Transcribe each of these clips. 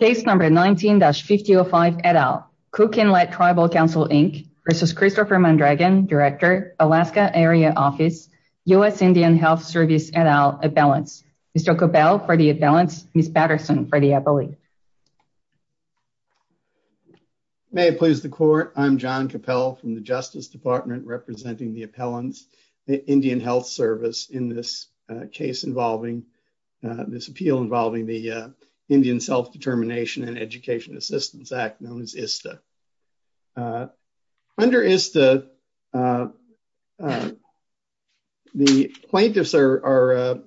Case number 19-5005 et al. Cook Inlet Tribal Council, Inc v. Christopher Mandregan, Director, Alaska Area Office, U.S. Indian Health Service et al. Appellants. Mr. Capell for the appellants, Ms. Patterson for the appellate. May it please the court, I'm John Capell from the Justice Department representing the appellants, Indian Health Service in this case involving, this appeal involving the Indian Self-Determination and Education Assistance Act, known as ISTA. Under ISTA, the plaintiffs are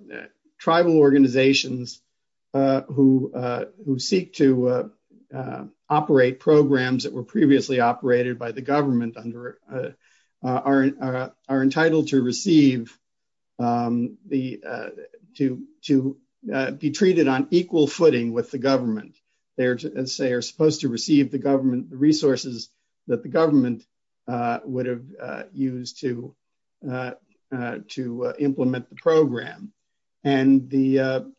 tribal organizations who seek to operate programs that were previously operated by the government under are entitled to receive, to be treated on equal footing with the government. They are supposed to receive the government, the resources that the government would have used to implement the program. And the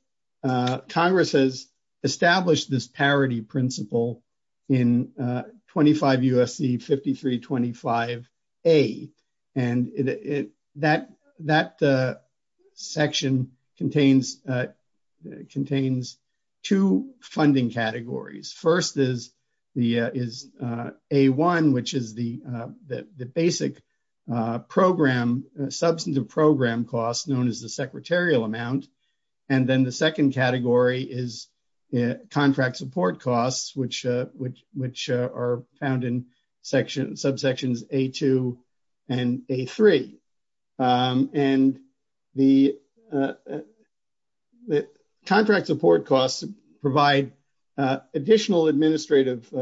Congress has established this parity principle in 25 U.S.C. 5325A. And that section contains two funding categories. First is A-1, which is the basic program, substantive program costs known as the secretarial amount. And then the second category is contract support costs, which are found in subsections A-2 and A-3. And the contract support costs provide additional administrative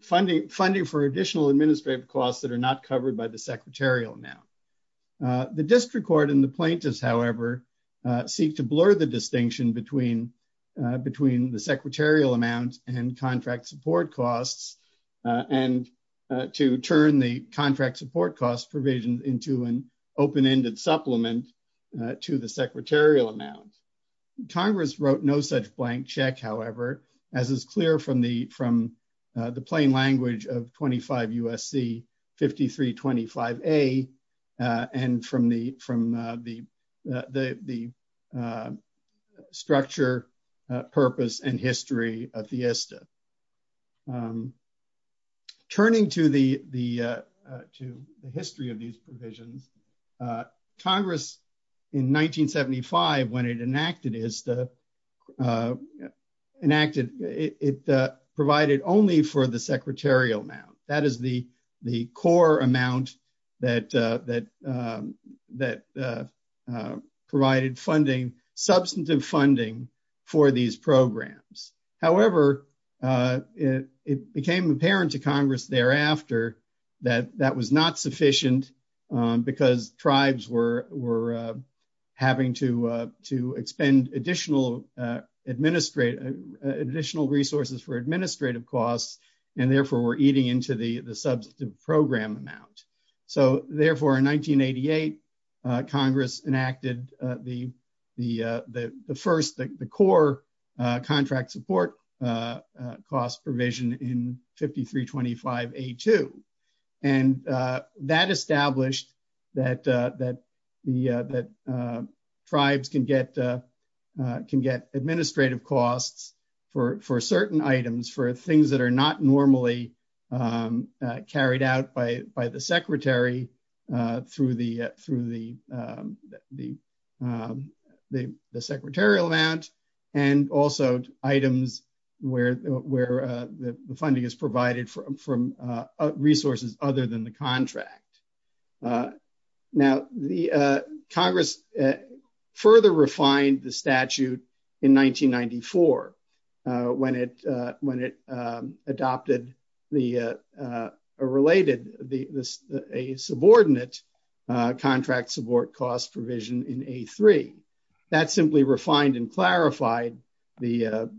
funding, funding for additional administrative costs that are not covered by the secretarial amount. The district court and the plaintiffs, however, seek to blur the distinction between the secretarial amount and contract support costs, and to turn the contract support costs provision into an open-ended supplement to the secretarial amount. Congress wrote no such blank check, however, as is clear from the plain language of 25 U.S.C. 5325A, and from the structure, purpose, and history of the ISTA. Turning to the history of these provisions, Congress in 1975, when it enacted ISTA, it provided only for the secretarial amount. That is the core amount that provided funding, substantive funding, for these programs. However, it became apparent to Congress thereafter that that was not sufficient because tribes were having to expend additional administrative, additional resources for administrative costs, and therefore, were eating into the substantive program amount. So, therefore, in 1988, Congress enacted the first, the core contract support cost provision in 5325A-2. And that established that that tribes can get administrative costs for certain items, for things that are not normally carried out by the secretary through the secretarial amount, and also items where the funding is provided from resources other than the contract. Now, Congress further refined the statute in 1994 when it adopted a subordinate contract support cost provision in A-3. That simply refined and clarified the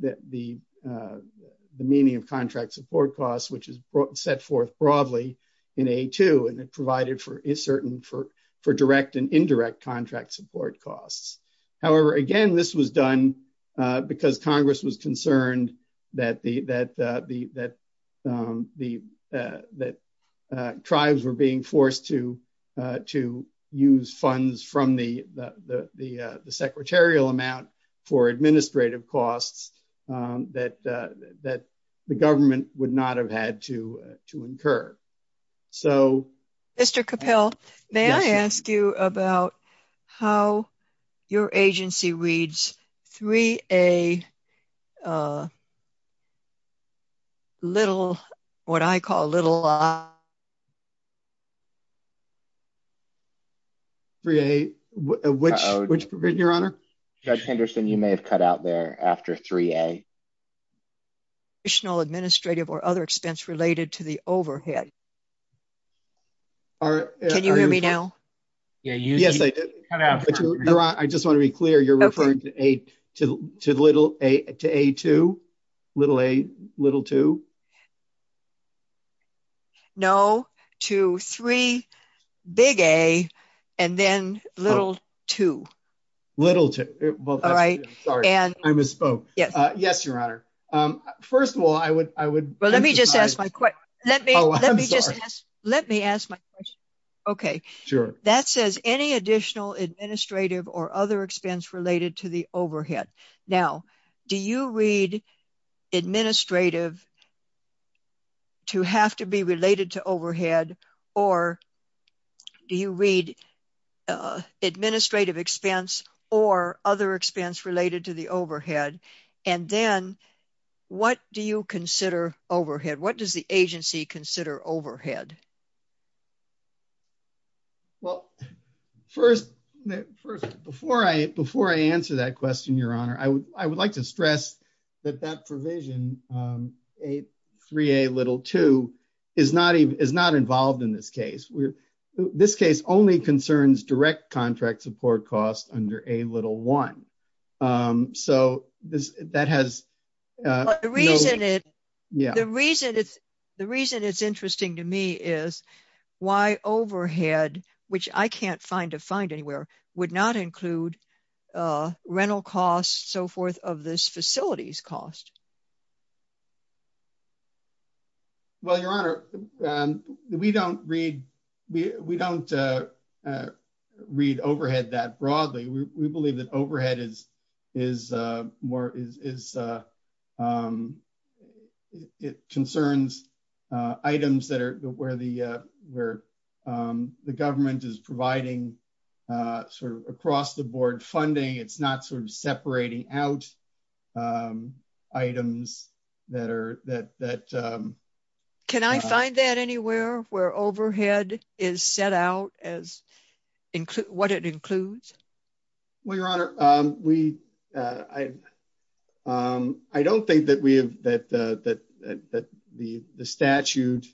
meaning of contract support costs, which is set forth broadly in A-2, and it provided for a certain, for direct and indirect contract support costs. However, again, this was done because Congress was concerned that tribes were being forced to use funds from the secretarial amount for administrative costs that the government would not have had to incur. So- Mr. Capil, may I ask you about how your agency reads 3A and what I call little- 3A, which provision, Your Honor? Judge Henderson, you may have cut out there after 3A. Additional administrative or other expense related to the overhead. Can you hear me now? Yes, I did. I just want to be clear, you're referring to A-2? No, to 3A, and then little-2. Little-2. Sorry, I misspoke. Yes, Your Honor. First of all, I would- Let me just ask, let me ask my question. Okay. Sure. That says any additional administrative or other expense related to the overhead. Now, do you read administrative to have to be related to overhead, or do you read administrative expense or other expense related to the overhead, and then what do you consider overhead? What does the agency consider overhead? Well, first, before I answer that question, Your Honor, I would like to stress that that provision, 3A, little-2, is not involved in this case. This case only concerns direct contract support costs under A, little-1. That has no- The reason it's interesting to me is why overhead, which I can't find to find anywhere, would not include rental costs, so forth, of this facility's overhead. Well, Your Honor, we don't read overhead that broadly. We believe that overhead is concerns items where the government is providing across-the-board funding. It's not separating out items that are- Can I find that anywhere where overhead is set out as what it includes? Well, Your Honor, I don't think that the statute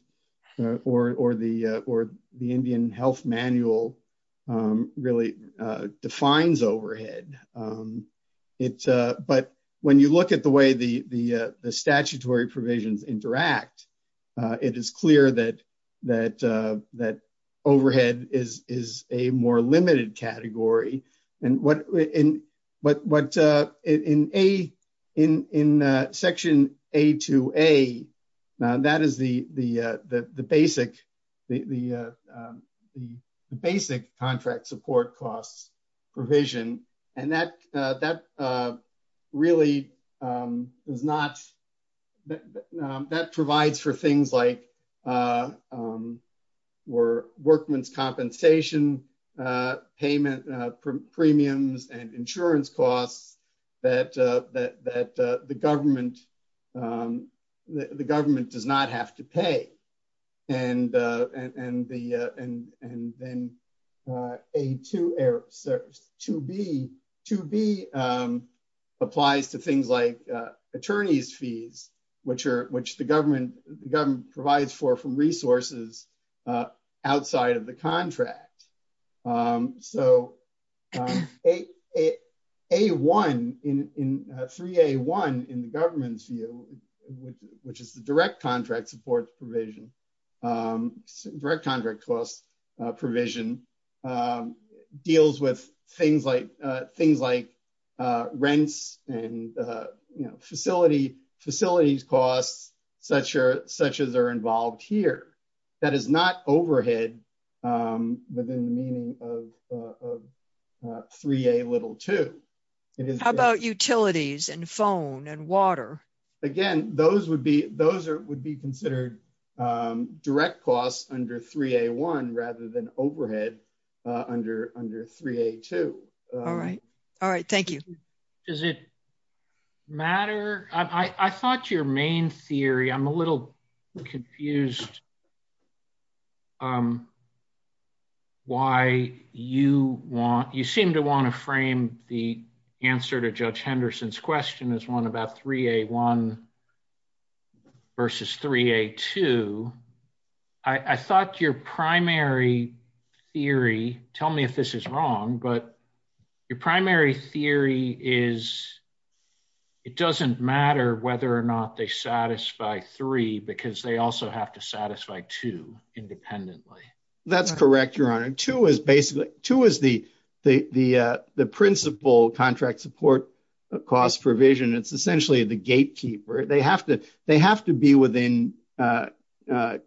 or the Indian health manual really defines overhead, but when you look at the way the statutory provisions interact, it is clear that overhead is a more limited category. In section A-2A, that is the basic contract support costs provision, and that really does not- That provides for things like workman's compensation, premiums, and insurance costs that the government does not have to pay. And then A-2B applies to things like attorney's fees, which the government provides for from resources outside of the contract. So A-1, 3A-1 in the government's view, which is the direct provision, direct contract cost provision, deals with things like rents and facilities costs such as are involved here. That is not overhead within the meaning of 3A-2. How about utilities and phone and water? Again, those would be considered direct costs under 3A-1 rather than overhead under 3A-2. All right. All right. Thank you. Does it matter? I thought your main theory, I'm a little confused why you seem to want to frame the answer to Judge Henderson's question as one about 3A-1 versus 3A-2. I thought your primary theory, tell me if this is wrong, but your primary theory is it doesn't matter whether or not they satisfy three because they also have to satisfy two independently. That's correct, Your Honor. Two is basically, two is the gatekeeper. They have to be within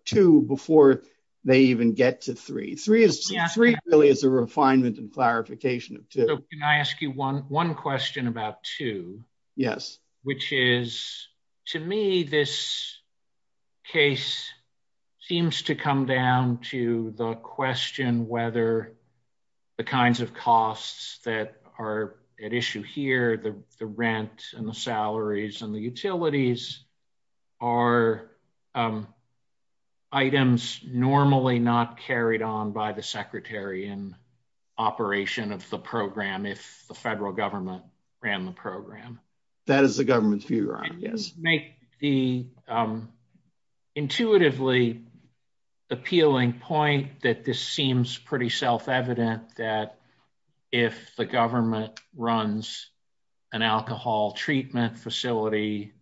two before they even get to three. Three really is a refinement and clarification of two. Can I ask you one question about two? Yes. Which is, to me, this case seems to come down to the question whether the kinds of costs that are at issue here, the rent and the salaries and the utilities, are items normally not carried on by the secretary in operation of the program if the federal government ran the program. That is the government's view, Your Honor. Yes. To make the intuitively appealing point that this seems pretty self-evident that if the government runs an alcohol treatment facility,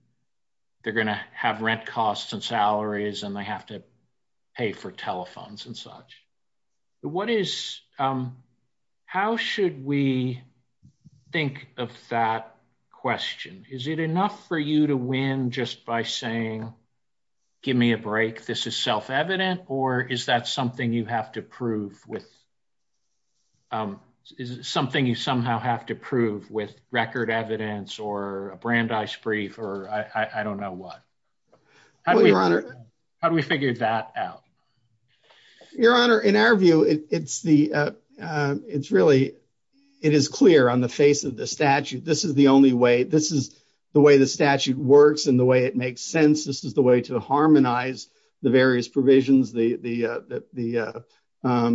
they're going to have rent costs and salaries and they have to pay for telephones and such. How should we think of that question? Is it enough for you to win just by saying, give me a break, this is self-evident or is that something you somehow have to prove with record evidence or a Brandeis brief or I don't know what? How do we figure that out? Your Honor, in our view, it is clear on the face of the statute. This is the way the statute works and the way it makes sense. This is the way to harmonize the various provisions, the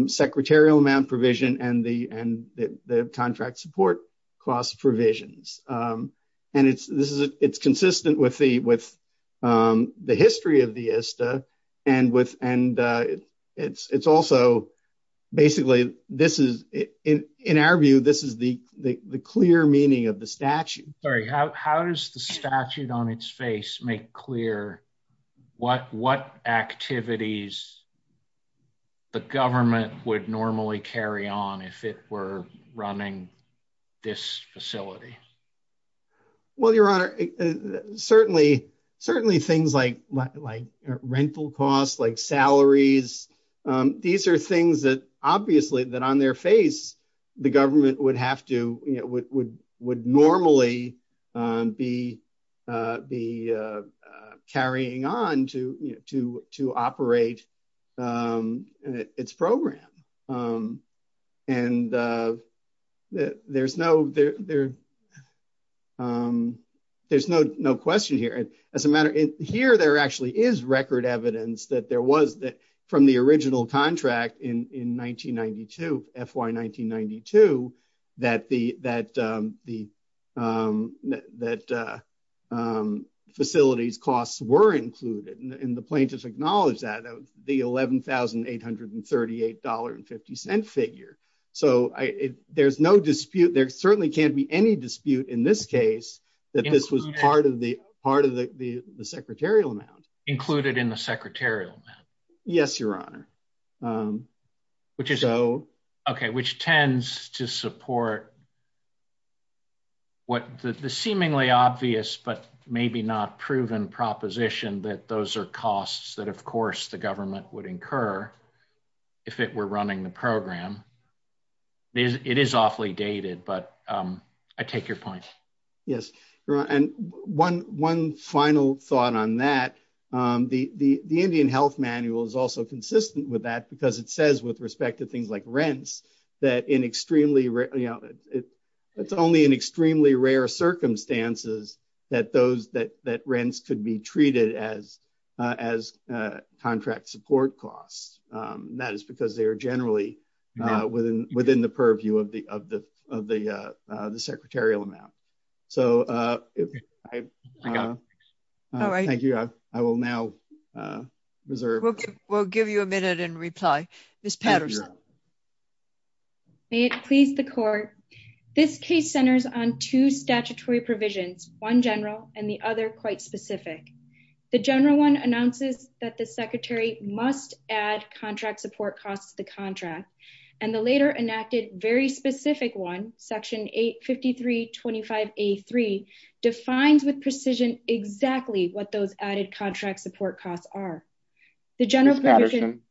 secretarial amount provision and the contract support cost provisions. It's consistent with the history of the ISTA and it's also basically, in our view, this is the clear meaning of the statute. Sorry, how does the activities the government would normally carry on if it were running this facility? Well, Your Honor, certainly things like rental costs, like salaries, these are things that obviously, that on their face, the government would normally be carrying on to operate its program. There's no question here. Here, there actually is record evidence that there was, from the original contract in 1992, FY 1992, that the facilities costs were included and the plaintiffs acknowledged that. The $11,838.50 figure. There certainly can't be any dispute in this case that this was part of the secretarial amount. Included in the secretarial amount? Yes, Your Honor. Which tends to support what the seemingly obvious, but maybe not proven proposition that those are costs that, of course, the government would incur if it were running the program. It is awfully dated, but I take your point. Yes, Your Honor. One final thought on that. The Indian Health Manual is also consistent with that because it says, with respect to things like rents, that it's only in extremely rare circumstances that rents could be treated as contract support costs. That is because they are generally within the purview of the secretarial amount. Thank you. I will now reserve. We'll give you a minute and reply. Ms. Patterson. May it please the court, this case centers on two statutory provisions, one general and the that the secretary must add contract support costs to the contract. The later enacted very specific one, section 853.25A3, defines with precision exactly what those added contract support costs are. Ms. Patterson,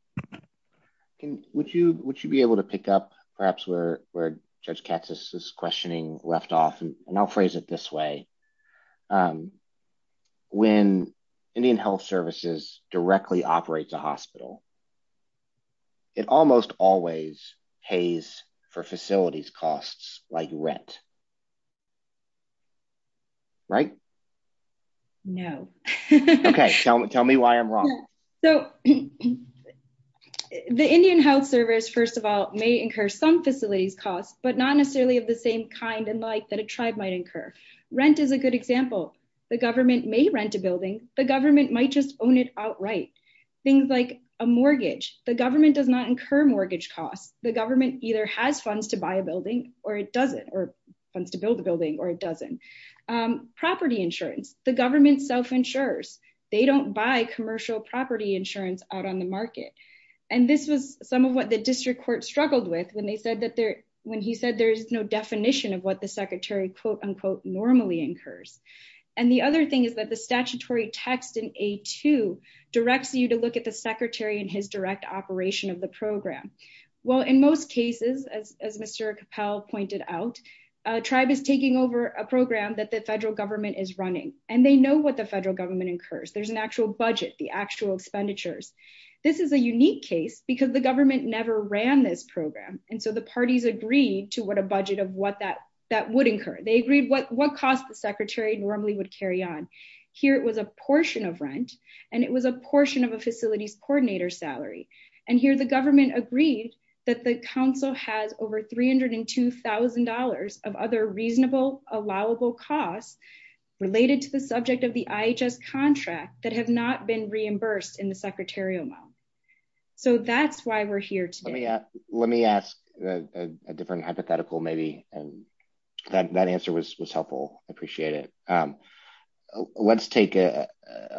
would you be able to pick up perhaps where Judge Katsas is a hospital? It almost always pays for facilities costs like rent. Right? No. Okay. Tell me why I'm wrong. The Indian Health Service, first of all, may incur some facilities costs, but not necessarily of the same kind and like that a tribe might incur. Rent is a good example. The government may rent a building. The government might just own it outright. Things like a mortgage, the government does not incur mortgage costs. The government either has funds to buy a building or it doesn't or funds to build a building or it doesn't. Property insurance, the government self-insures. They don't buy commercial property insurance out on the market. This was some of what the district court struggled with when he said there's no definition of what the secretary normally incurs. The other thing is that the statutory text in A2 directs you to look at the secretary and his direct operation of the program. Well, in most cases, as Mr. Capell pointed out, a tribe is taking over a program that the federal government is running and they know what the federal government incurs. There's an actual budget, the actual expenditures. This is a unique case because the government never ran this program and so the parties agreed to what a budget of what would incur. They agreed what cost the secretary normally would carry on. Here, it was a portion of rent and it was a portion of a facility's coordinator salary. Here, the government agreed that the council has over $302,000 of other reasonable allowable costs related to the subject of the IHS contract that have not been reimbursed in the secretarial amount. That's why we're here today. Let me ask a different hypothetical maybe. That answer was helpful. I appreciate it. Let's take a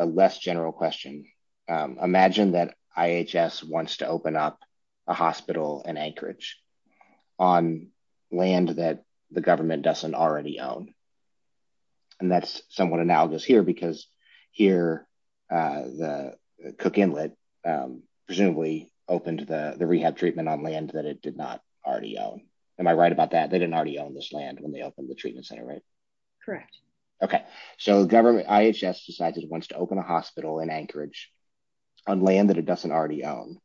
less general question. Imagine that IHS wants to open up a hospital in Anchorage on land that the government doesn't already own. That's somewhat analogous here because here, Cook Inlet presumably opened the rehab treatment on land that it did not already own. Am I right about that? They didn't already own this land when they opened the treatment center, right? Correct. Okay. The government, IHS, decides it wants to open a hospital in Anchorage on land that it doesn't already own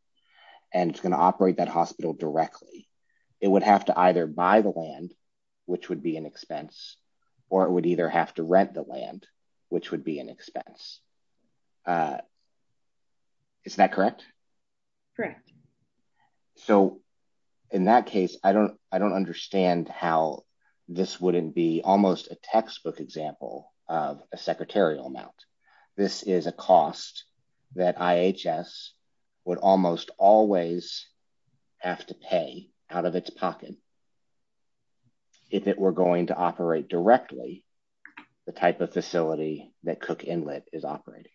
and it's going to operate that hospital directly. It would have to either buy the land, which would be an expense, or it would either have to rent the land, which would be an expense. Is that correct? Correct. In that case, I don't understand how this wouldn't be almost a textbook example of a secretarial amount. This is a cost that IHS would almost always have to pay out of its pocket if it were going to operate directly the type of facility that Cook Inlet is operating.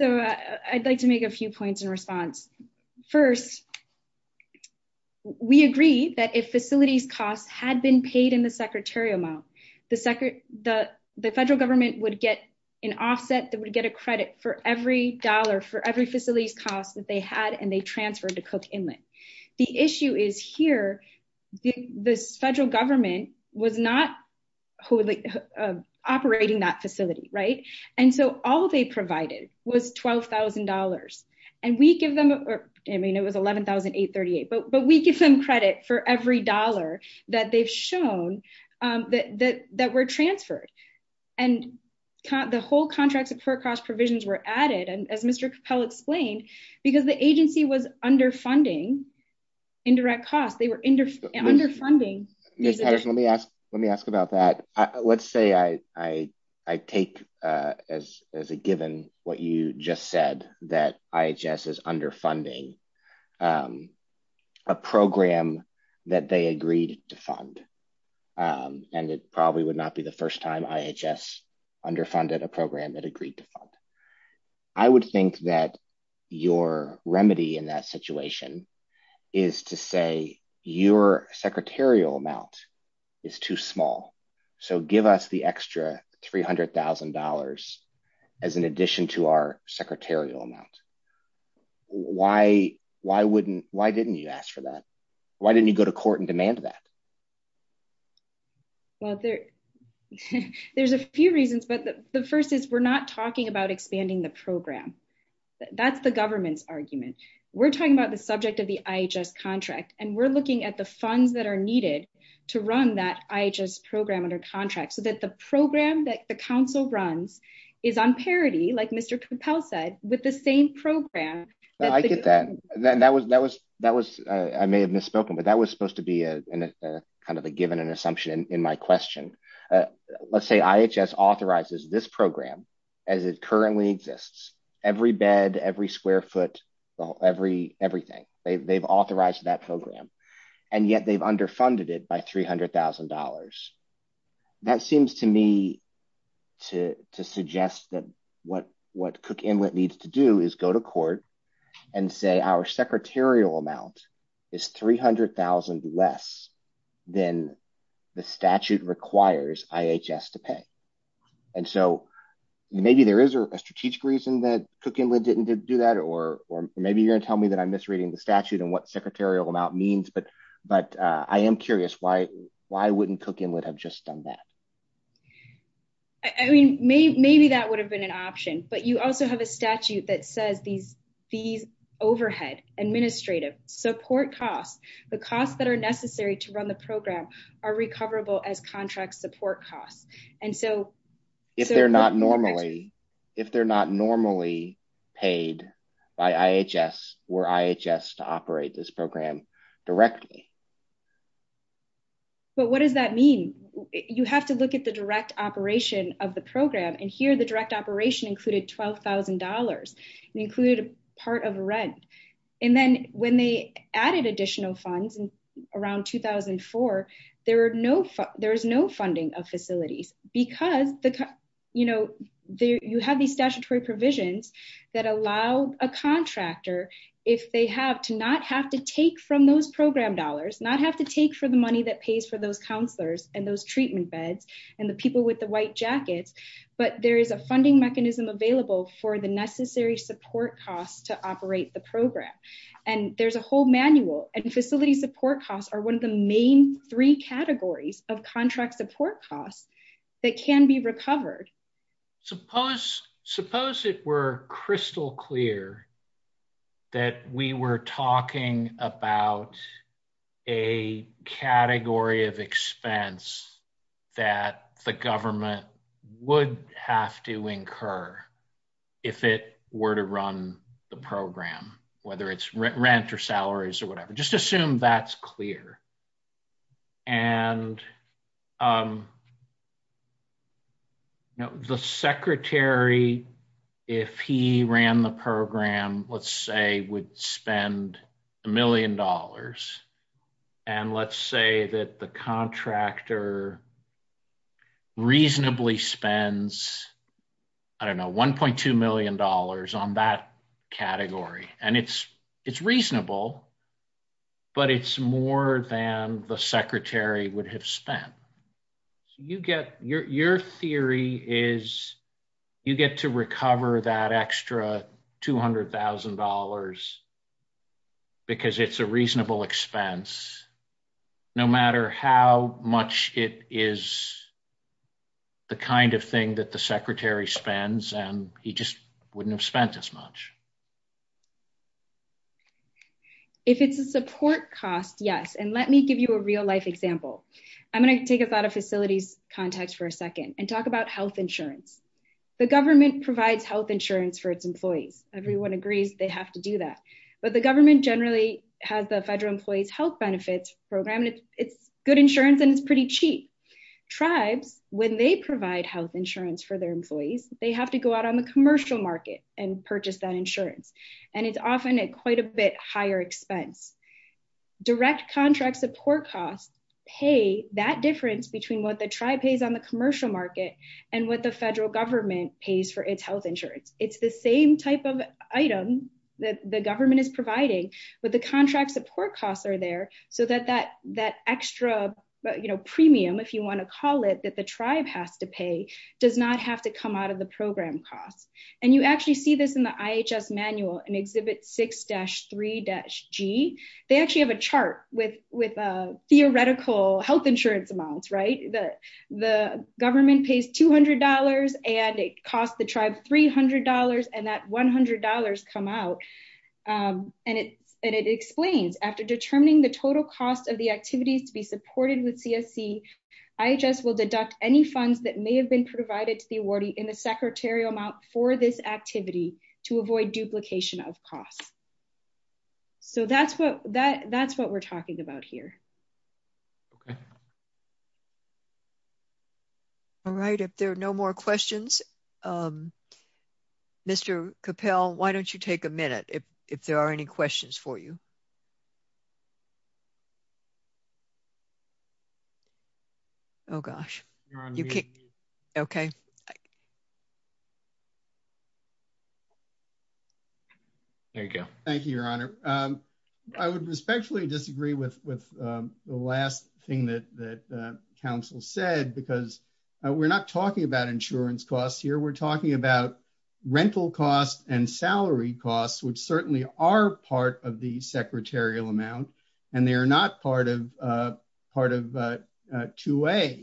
I'd like to make a few points in response. First, we agree that if facilities costs had been paid in the secretarial amount, the federal government would get an offset that for every facility's cost that they had and they transferred to Cook Inlet. The issue is here, the federal government was not operating that facility, right? All they provided was $12,000. It was $11,838, but we give them credit for every dollar that they've shown that were transferred. The whole contracts of per cost provisions were added, as Mr. Capel explained, because the agency was underfunding indirect costs. They were underfunding. Ms. Patterson, let me ask about that. Let's say I take as a given what you just said, that IHS is underfunding a program that they agreed to fund. It probably would not be the first time IHS underfunded a program that agreed to fund. I would think that your remedy in that situation is to say your secretarial amount is too small. Give us the extra $300,000 as an addition to our secretarial amount. Why didn't you ask for that? Why didn't you go to court and demand that? There's a few reasons, but the first is we're not talking about expanding the program. That's the government's argument. We're talking about the subject of the IHS contract and we're looking at the funds that are needed to run that IHS program under contract so the program that the council runs is on parity, like Mr. Capel said, with the same program. I get that. I may have misspoken, but that was supposed to be a given and assumption in my question. Let's say IHS authorizes this program as it currently exists, every bed, every square foot, everything. They've authorized that program and yet they've underfunded it by $300,000. That seems to me to suggest that what Cook Inlet needs to do is go to court and say our secretarial amount is $300,000 less than the statute requires IHS to pay. Maybe there is a strategic reason that Cook Inlet didn't do that or maybe you're going to tell me that I'm misreading the statute and secretarial amount means, but I am curious. Why wouldn't Cook Inlet have just done that? I mean, maybe that would have been an option, but you also have a statute that says these fees, overhead, administrative, support costs, the costs that are necessary to run the program are recoverable as contract support costs. If they're not normally paid by IHS or IHS to operate this program directly. But what does that mean? You have to look at the direct operation of the program and here the direct operation included $12,000. It included part of rent. And then when they added additional funds around 2004, there is no funding of facilities because you have these statutory provisions that allow a contractor if they have to not have to take from those program dollars, not have to take for the money that pays for those counselors and those treatment beds and the people with the white jackets, but there is a funding mechanism available for the necessary support costs to operate the program. And there's a whole manual and facility support costs are one of the main three categories of contract support costs that can be recovered. Suppose it were crystal clear that we were talking about a category of expense that the government would have to incur if it were to run the program, whether it's rent or salaries or whatever. Suppose that's clear. And the secretary, if he ran the program, let's say would spend a million dollars. And let's say that the contractor reasonably spends, I don't know, $1.2 million on that it's more than the secretary would have spent. Your theory is you get to recover that extra $200,000 because it's a reasonable expense, no matter how much it is the kind of thing that the secretary spends and he just wouldn't have spent as much. If it's a support cost, yes. And let me give you a real life example. I'm going to take a thought of facilities context for a second and talk about health insurance. The government provides health insurance for its employees. Everyone agrees they have to do that, but the government generally has the federal employees health benefits program. It's good insurance and it's pretty cheap. Tribes, when they provide health insurance for their employees, they have to go out on the and it's often at quite a bit higher expense. Direct contract support costs pay that difference between what the tribe pays on the commercial market and what the federal government pays for its health insurance. It's the same type of item that the government is providing, but the contract support costs are there so that that extra premium, if you want to call it, that the tribe has to pay does not have to come out of the program costs. And you actually see this in the IHS manual and exhibit 6-3-G. They actually have a chart with theoretical health insurance amounts, right? The government pays $200 and it costs the tribe $300 and that $100 come out. And it explains after determining the total cost of the activities to be supported with CSC, IHS will deduct any funds that may have been provided to the awardee in the secretarial amount for this activity to avoid duplication of costs. So that's what we're talking about here. Okay. All right. If there are no more questions, Mr. Capell, why don't you take a minute if there are any questions for you? Oh, gosh. Okay. Thank you. Thank you, Your Honor. I would respectfully disagree with the last thing that council said, because we're not talking about insurance costs here. We're talking about costs that are within the secretarial amount, and they are not part of 2A.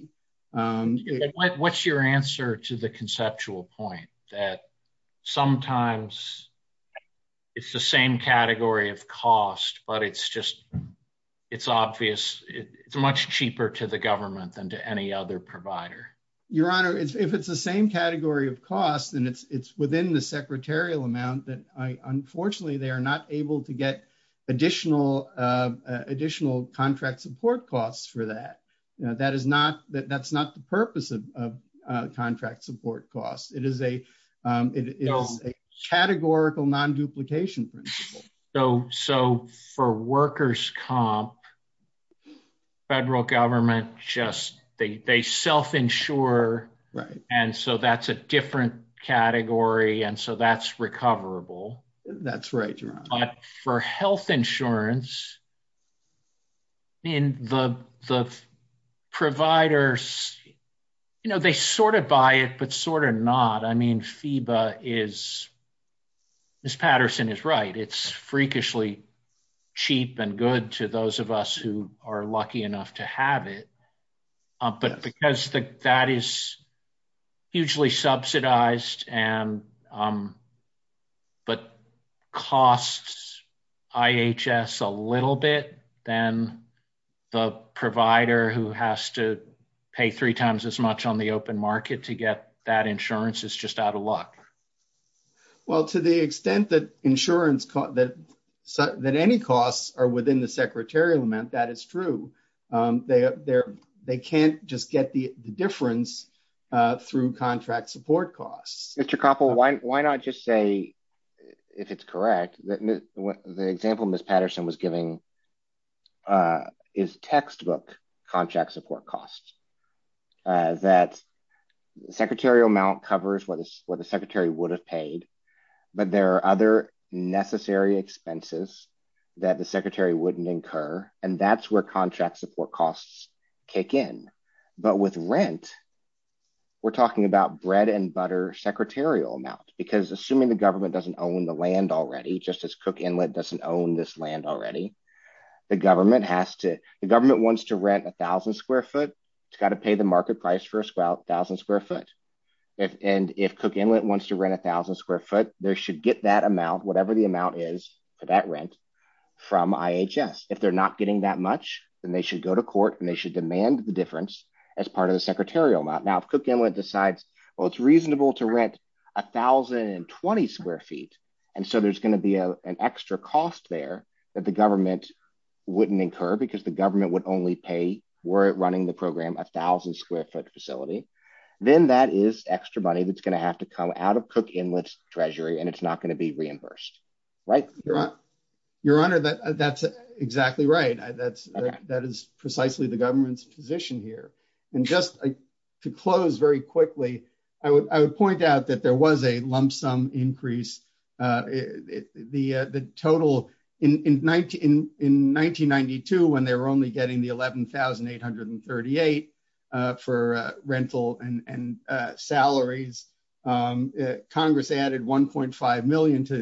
What's your answer to the conceptual point that sometimes it's the same category of cost, but it's just, it's obvious, it's much cheaper to the government than to any other provider? Your Honor, if it's the same category of cost and it's within the secretarial amount, unfortunately, they are not able to get additional contract support costs for that. That's not the purpose of contract support costs. It is a categorical non-duplication principle. So for workers' comp, federal government just, they self-insure, and so that's a different That's right, Your Honor. But for health insurance, the providers, they sort of buy it, but sort of not. I mean, FEBA is, Ms. Patterson is right, it's freakishly cheap and good to those of us who are lucky enough to have it, but because that is hugely subsidized, but costs IHS a little bit, then the provider who has to pay three times as much on the open market to get that insurance is just out of luck. Well, to the extent that insurance, that any costs are within the secretarial amount, that is true. They can't just get the difference through contract support costs. Mr. Koppel, why not just say, if it's correct, that the example Ms. Patterson was giving is textbook contract support costs, that secretarial amount covers what the secretary would have paid, but there are other necessary expenses that the secretary wouldn't incur, and that's where contract support costs kick in. But with rent, we're talking about bread and butter secretarial amount, because assuming the government doesn't own the land already, just as Cook Inlet doesn't own this land already, the government wants to rent 1,000 square foot, it's got to pay the market price for 1,000 square foot. And if Cook Inlet wants to rent 1,000 square foot, they should get that amount, whatever the amount is for that rent, from IHS. If they're getting that much, then they should go to court and they should demand the difference as part of the secretarial amount. Now, if Cook Inlet decides, well, it's reasonable to rent 1,020 square feet, and so there's going to be an extra cost there that the government wouldn't incur because the government would only pay, were it running the program, 1,000 square foot facility, then that is extra money that's going to have to come out of Cook Inlet's treasury, and it's not going to be reimbursed, right? Your Honor, that's exactly right. That is precisely the government's position here. And just to close very quickly, I would point out that there was a lump sum increase. The total in 1992, when they were only getting the 11,838 for rental and salaries, Congress added $1.5 million to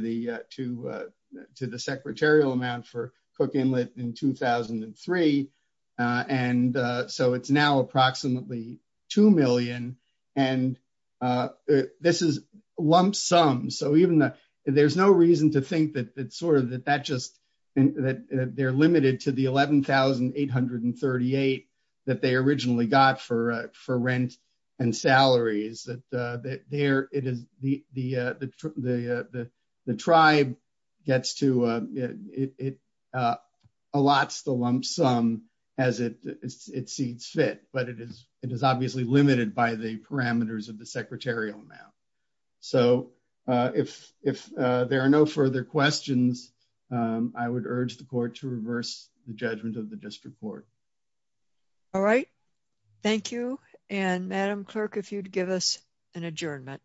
the secretarial amount for Cook Inlet in 2003, and so it's now approximately $2 million, and this is lump sums. So even though there's no reason to think that they're limited to the 11,838 that they originally got for rent and salaries, the tribe gets to, it allots the lump sum as it sees fit, but it is obviously limited by the parameters of the secretarial amount. So if there are no further questions, I would urge the Court to adjourn. All right. Thank you, and Madam Clerk, if you'd give us an adjournment.